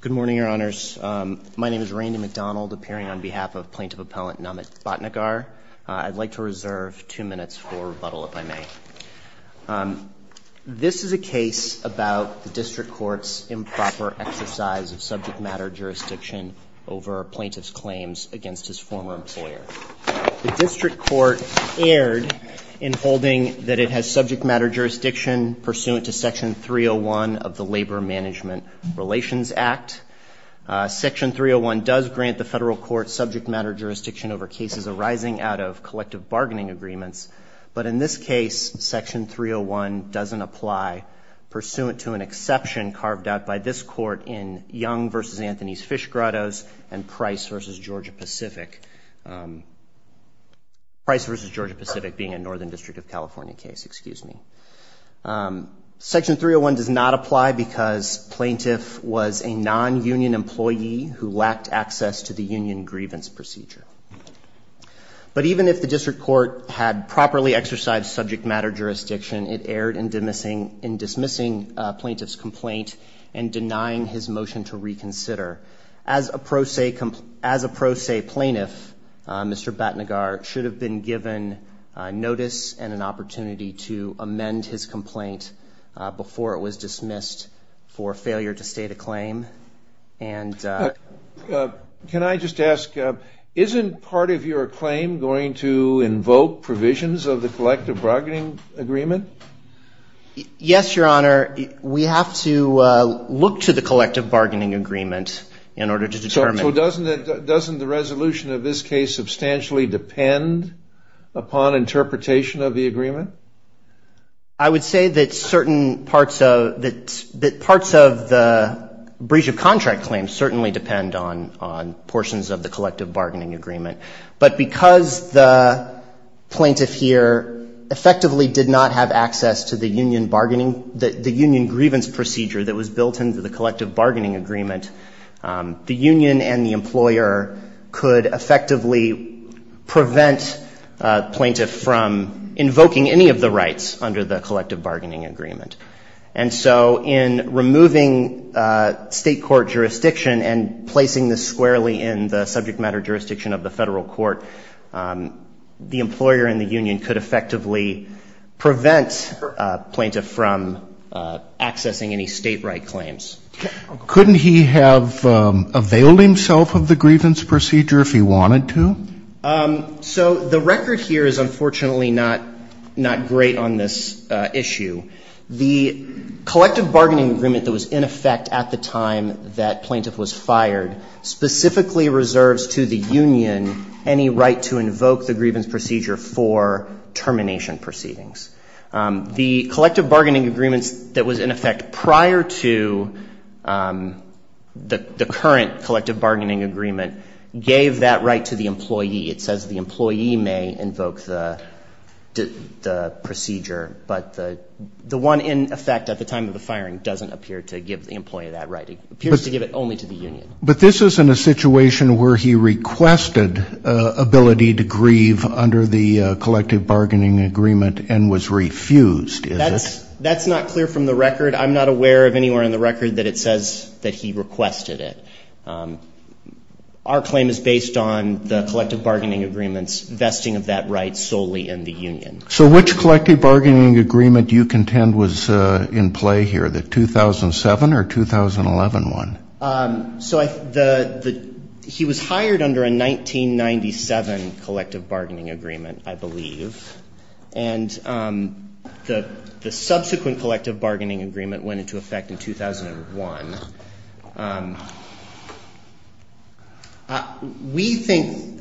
Good morning, Your Honors. My name is Randy McDonald, appearing on behalf of Plaintiff Appellant Namit Bhatnagar. I'd like to reserve two minutes for rebuttal, if I may. This is a case about the District Court's improper exercise of subject matter jurisdiction over plaintiff's claims against his former employer. The District Court erred in holding that it has subject matter jurisdiction pursuant to Section 301 of the Labor Management Relations Act. Section 301 does grant the federal court subject matter jurisdiction over cases arising out of collective bargaining agreements, but in this case, Section 301 doesn't apply, pursuant to an exception carved out by this court in Young v. Anthony's Fish Grottoes and Price v. Georgia-Pacific. Price v. Georgia-Pacific being a Northern District of California case, excuse me. Section 301 does not apply because plaintiff was a non-union employee who lacked access to the union grievance procedure. But even if the District Court had properly exercised subject matter jurisdiction, it erred in dismissing plaintiff's complaint and denying his motion to reconsider. As a pro se plaintiff, Mr. Batnagar should have been given notice and an opportunity to amend his complaint before it was dismissed for failure to state a claim. Can I just ask, isn't part of your claim going to invoke provisions of the collective bargaining agreement? Yes, Your Honor. We have to look to the collective bargaining agreement in order to determine. So doesn't the resolution of this case substantially depend upon interpretation of the agreement? I would say that certain parts of the breach of contract claim certainly depend on portions of the collective bargaining agreement. But because the plaintiff here effectively did not have access to the union bargaining, the union grievance procedure that was built into the collective bargaining agreement, the union and the employer could effectively prevent plaintiff from invoking any of the rights under the collective bargaining agreement. And so in removing state court jurisdiction and placing this squarely in the subject matter jurisdiction of the federal court, the employer and the union could effectively prevent plaintiff from accessing any state right claims. Couldn't he have availed himself of the grievance procedure if he wanted to? So the record here is unfortunately not great on this issue. The collective bargaining agreement that was in effect at the time that plaintiff was fired specifically reserves to the union any right to invoke the grievance procedure for termination proceedings. The collective bargaining agreements that was in effect prior to the current collective bargaining agreement gave that right to the employee. It says the employee may invoke the procedure, but the one in effect at the time of the firing doesn't appear to give the employee that right. It appears to give it only to the union. But this isn't a situation where he requested ability to grieve under the collective bargaining agreement and was refused, is it? That's not clear from the record. I'm not aware of anywhere in the record that it says that he requested it. Our claim is based on the collective bargaining agreement's requesting of that right solely in the union. So which collective bargaining agreement do you contend was in play here, the 2007 or 2011 one? So he was hired under a 1997 collective bargaining agreement, I believe. And the subsequent collective bargaining agreement went into effect in 2001. We think,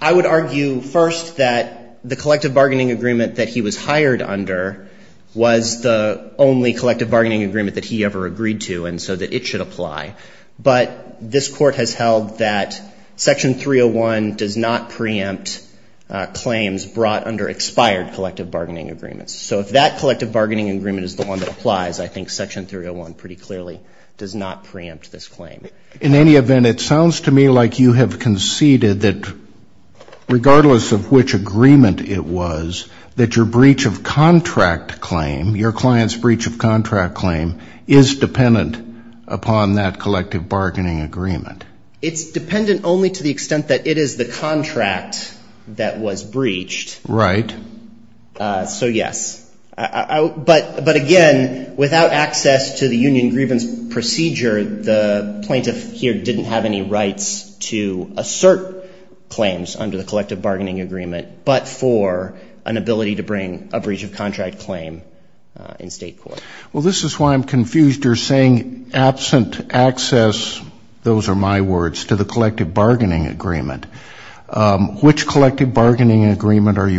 I would argue first that the collective bargaining agreement that he was hired under was the only collective bargaining agreement that he ever agreed to and so that it should apply. But this Court has held that Section 301 does not preempt claims brought under expired collective bargaining agreements. So if that collective bargaining agreement is the one that applies, I think Section 301 pretty clearly does not preempt this claim. In any event, it sounds to me like you have conceded that regardless of which agreement it was, that your breach of contract claim, your client's breach of contract claim is dependent upon that collective bargaining agreement. It's dependent only to the extent that it is the contract that was breached. Right. So yes. But again, without access to the union grievance procedure, the plaintiff here didn't have any rights to assert claims under the collective bargaining agreement but for an ability to bring a breach of contract claim in state court. Well this is why I'm confused. You're saying absent access, those are my words, to the point that I'm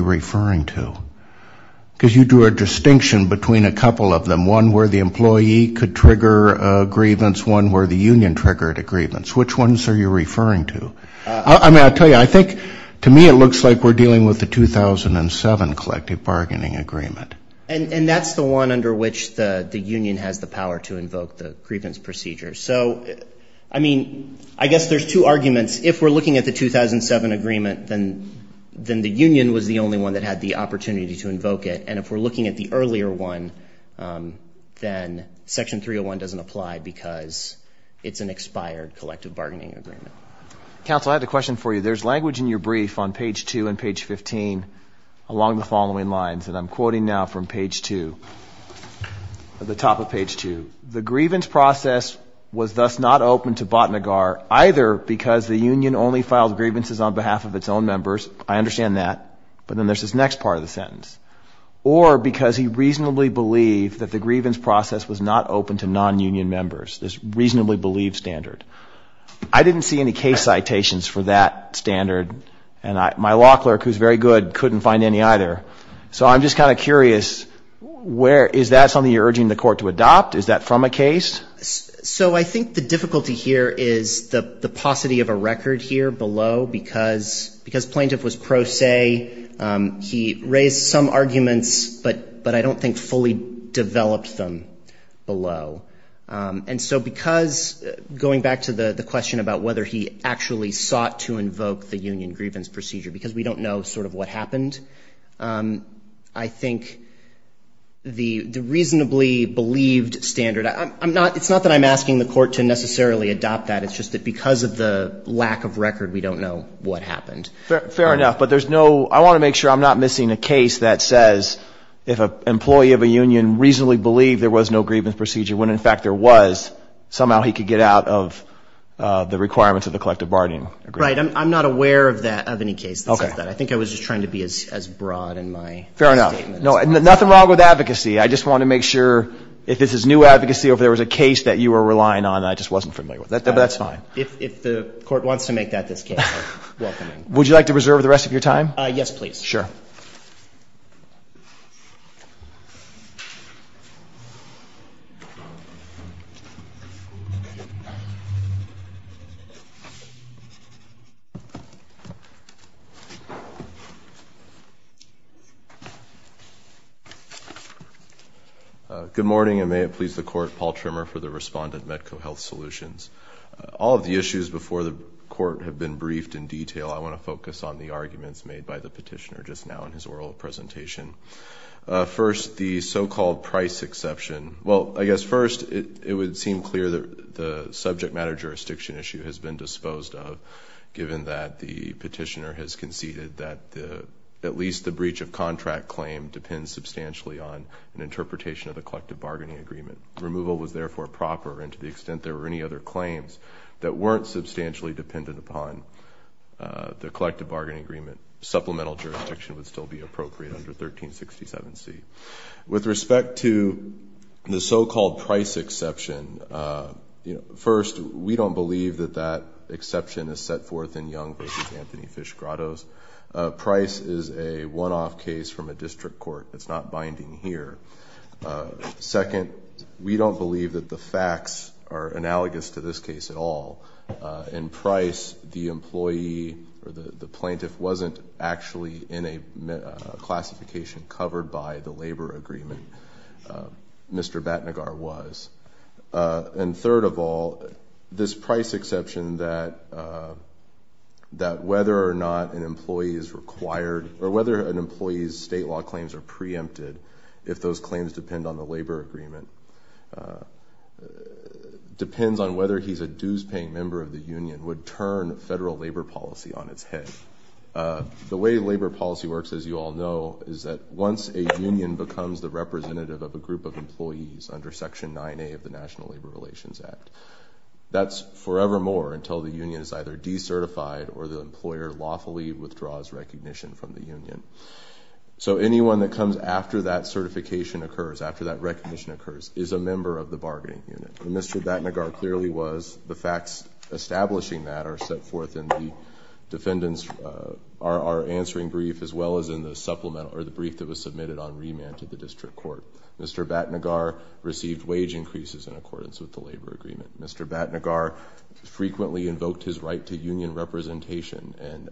referring to. Because you drew a distinction between a couple of them, one where the employee could trigger a grievance, one where the union triggered a grievance. Which ones are you referring to? I mean, I'll tell you, I think to me it looks like we're dealing with the 2007 collective bargaining agreement. And that's the one under which the union has the power to invoke the grievance procedure. So I mean, I guess there's two arguments. If we're looking at the 2007 agreement, then the union was the only one that had the opportunity to invoke it. And if we're looking at the earlier one, then Section 301 doesn't apply because it's an expired collective bargaining agreement. Counsel, I have a question for you. There's language in your brief on page 2 and page 15 along the following lines. And I'm quoting now from page 2, at the top of page 2. The grievance process was thus not open to Botnagar either because the union only filed grievances on behalf of its own members. I understand that. But then there's this next part of the sentence. Or because he reasonably believed that the grievance process was not open to non-union members. This reasonably believed standard. I didn't see any case citations for that standard. And my law clerk, who's very good, couldn't find any either. So I'm just kind of curious, is that something you're urging the court to adopt? Is that from a case? So I think the difficulty here is the paucity of a record here below. Because plaintiff was pro se, he raised some arguments, but I don't think fully developed them below. And so because, going back to the question about whether he actually sought to invoke the union grievance procedure, because we don't know sort of what happened, I think the reasonably believed standard, I'm not, it's not that I'm asking the court to necessarily adopt that. It's just that because of the lack of record, we don't know what happened. Fair enough. But there's no, I want to make sure I'm not missing a case that says if an employee of a union reasonably believed there was no grievance procedure, when in fact there was, somehow he could get out of the requirements of the collective bargaining agreement. Right. I'm not aware of that, of any case that says that. I think I was just trying to be as broad in my statement. No, nothing wrong with advocacy. I just want to make sure if this is new advocacy or if there was a case that you were relying on that I just wasn't familiar with. But that's fine. If the court wants to make that this case, I'm welcoming. Would you like to reserve the rest of your time? Yes, please. Sure. Good morning, and may it please the court, Paul Trimmer for the respondent, Medco Health Solutions. All of the issues before the court have been briefed in detail. I want to focus on the arguments made by the petitioner just now in his oral presentation. First, the so-called price exception. Well, I guess first, it would seem clear that the subject matter jurisdiction issue has been disposed of, given that the petitioner has conceded that at least the claim depends substantially on an interpretation of the collective bargaining agreement. Removal was therefore proper, and to the extent there were any other claims that weren't substantially dependent upon the collective bargaining agreement, supplemental jurisdiction would still be appropriate under 1367C. With respect to the so-called price exception, first, we don't believe that that exception is set forth in Young v. Anthony Fish Grottoes. Price is a one-off case from a district court. It's not binding here. Second, we don't believe that the facts are analogous to this case at all. In price, the employee or the plaintiff wasn't actually in a classification covered by the labor agreement. Mr. Batnagar was. And third of all, this price exception that whether or not an employee's state law claims are preempted, if those claims depend on the labor agreement, depends on whether he's a dues-paying member of the union, would turn federal labor policy on its head. The way labor policy works, as you all know, is that once a union becomes the representative of a group of employees under Section 9A of the National Labor Relations Act, that's forevermore until the union is either decertified or the employer lawfully withdraws recognition from the union. So anyone that comes after that certification occurs, after that recognition occurs, is a member of the bargaining unit. Mr. Batnagar clearly was. The facts establishing that are set forth in the defendant's answering brief as well as in the supplement or the Mr. Batnagar received wage increases in accordance with the labor agreement. Mr. Batnagar frequently invoked his right to union representation and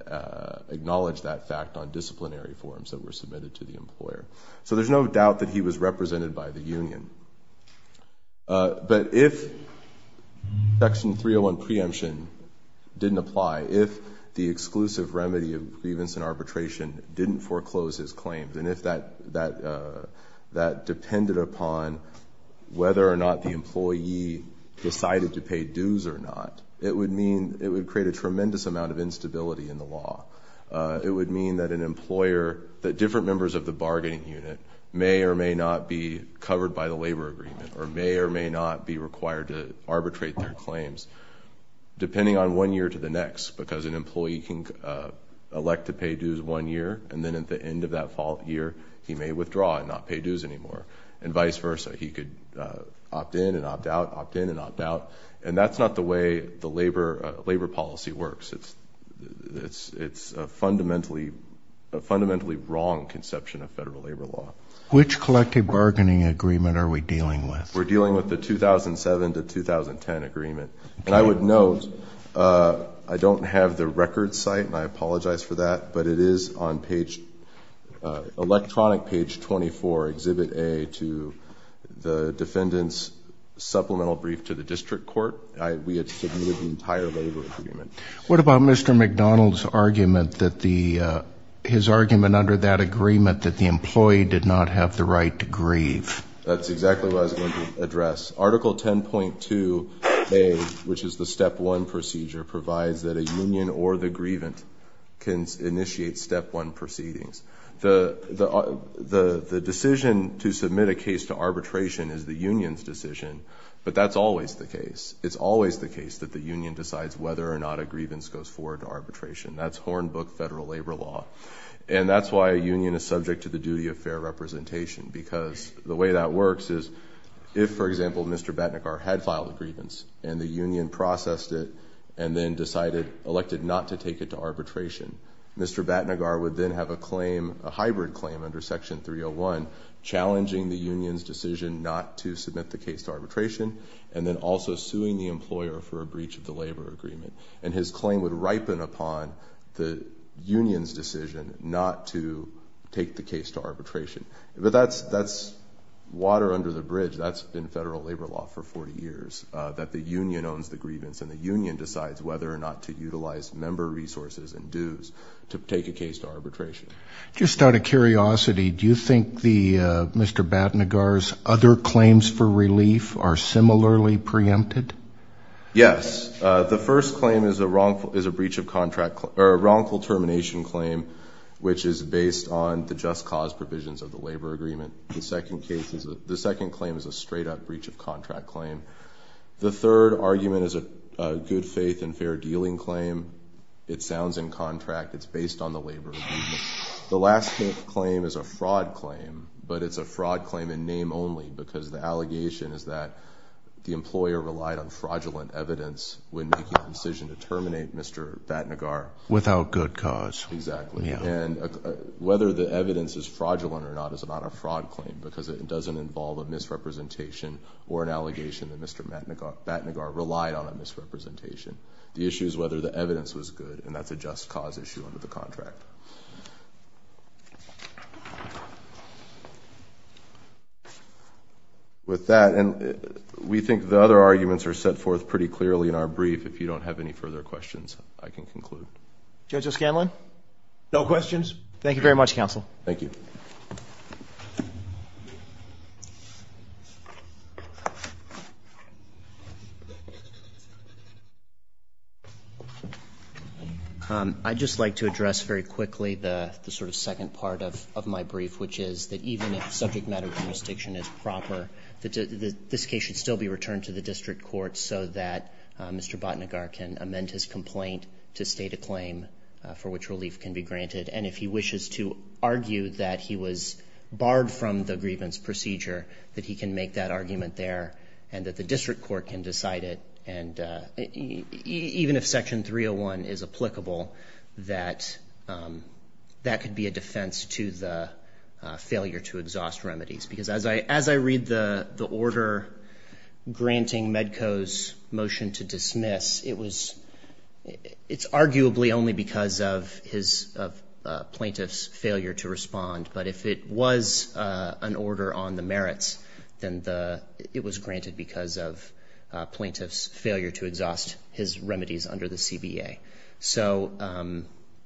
acknowledged that fact on disciplinary forms that were submitted to the employer. So there's no doubt that he was represented by the union. But if Section 301 preemption didn't apply, if the exclusive remedy of grievance and arbitration didn't foreclose his claims, and if that depended upon whether or not the employee decided to pay dues or not, it would create a tremendous amount of instability in the law. It would mean that different members of the bargaining unit may or may not be covered by the labor agreement or may or may not be required to arbitrate their claims, depending on one year to the next, because an employee can elect to pay dues one year, and then at the end of that year, he may withdraw and not pay dues anymore, and vice versa. He could opt in and opt out, opt in and opt out. And that's not the way the labor policy works. It's a fundamentally wrong conception of federal labor law. Which collective bargaining agreement are we dealing with? We're dealing with the 2007 to 2010 agreement. And I would note, I don't have the record site, and I apologize for that, but it is on page, electronic page 24, exhibit A, to the defendant's supplemental brief to the district court. We had submitted the entire labor agreement. What about Mr. McDonald's argument that the, his argument is exactly what I was going to address. Article 10.2A, which is the step one procedure, provides that a union or the grievant can initiate step one proceedings. The decision to submit a case to arbitration is the union's decision, but that's always the case. It's always the case that the union decides whether or not a grievance goes forward to arbitration. That's Hornbook federal labor law. And that's why a union is subject to the duty of fair representation, because the way that works is if, for example, Mr. Batnagar had filed a grievance and the union processed it and then decided, elected not to take it to arbitration, Mr. Batnagar would then have a claim, a hybrid claim under Section 301, challenging the union's decision not to submit the case to arbitration, and then also suing the employer for a breach of the labor agreement. And his claim would ripen upon the union's decision not to take the case to arbitration. But that's water under the bridge. That's been federal labor law for 40 years, that the union owns the grievance and the union decides whether or not to utilize member resources and dues to take a case to arbitration. Just out of curiosity, do you think Mr. Batnagar's other claims for relief are similarly preempted? Yes. The first claim is a wrongful termination claim, which is based on the just cause provisions of the labor agreement. The second claim is a straight up breach of contract claim. The third argument is a good faith and fair dealing claim. It sounds in contract. It's based on the labor agreement. The last claim is a fraud claim, but it's a fraud claim in name only because the allegation is that the employer relied on fraudulent evidence when making the decision to terminate Mr. Batnagar. Without good cause. Exactly. And whether the evidence is fraudulent or not is not a fraud claim because it doesn't involve a misrepresentation or an allegation that Mr. Batnagar relied on a misrepresentation. The issue is whether the evidence was good, and that's a just cause issue under the contract. With that, and we think the other arguments are set forth pretty clearly in our brief. If you don't have any further questions, I can conclude. Judge O'Scanlan? No questions. Thank you very much, counsel. Thank you. I'd just like to address very quickly the sort of second part of my brief, which is that even if subject matter jurisdiction is proper, this case should still be returned to the district court so that Mr. Batnagar can amend his complaint to state a claim for which relief can be granted. And if he wishes to argue that he was barred from the grievance procedure, that he can make that argument there and that the district court can decide it. And even if Section 301 is applicable, that could be a defense to the failure to exhaust remedies. Because as I read the order granting Medco's motion to dismiss, it's arguably only because of plaintiff's failure to respond. But if it was an order on the merits, then it was because of plaintiff's failure to exhaust his remedies under the CBA. So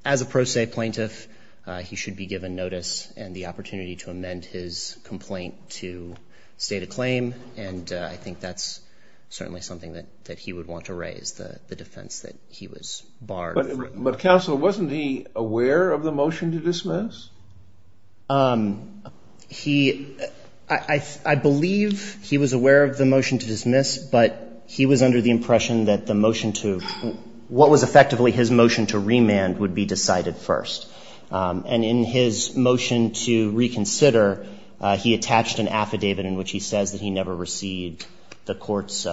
as a pro se plaintiff, he should be given notice and the opportunity to amend his complaint to state a claim. And I think that's certainly something that he would want to raise, the defense that he was barred. But counsel, wasn't he aware of the motion to dismiss? He, I believe he was aware of the motion to dismiss, but he was under the impression that the motion to, what was effectively his motion to remand would be decided first. And in his motion to reconsider, he attached an affidavit in which he says that he never received the court's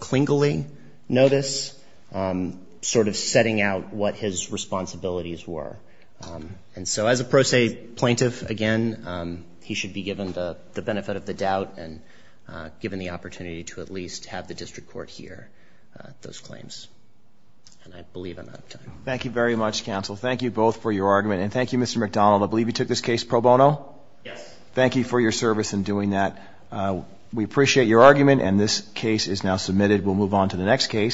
clingily notice, sort of setting out what his responsibilities were. And so as a pro se plaintiff, again, he should be given the benefit of the doubt and given the opportunity to at least have the district court hear those claims. And I believe I'm out of time. Thank you very much, counsel. Thank you both for your argument. And thank you, Mr. McDonald. I believe you took this case pro bono? Yes. Thank you for your service in doing that. We appreciate your argument, and this case is now submitted. We'll move on to the next case.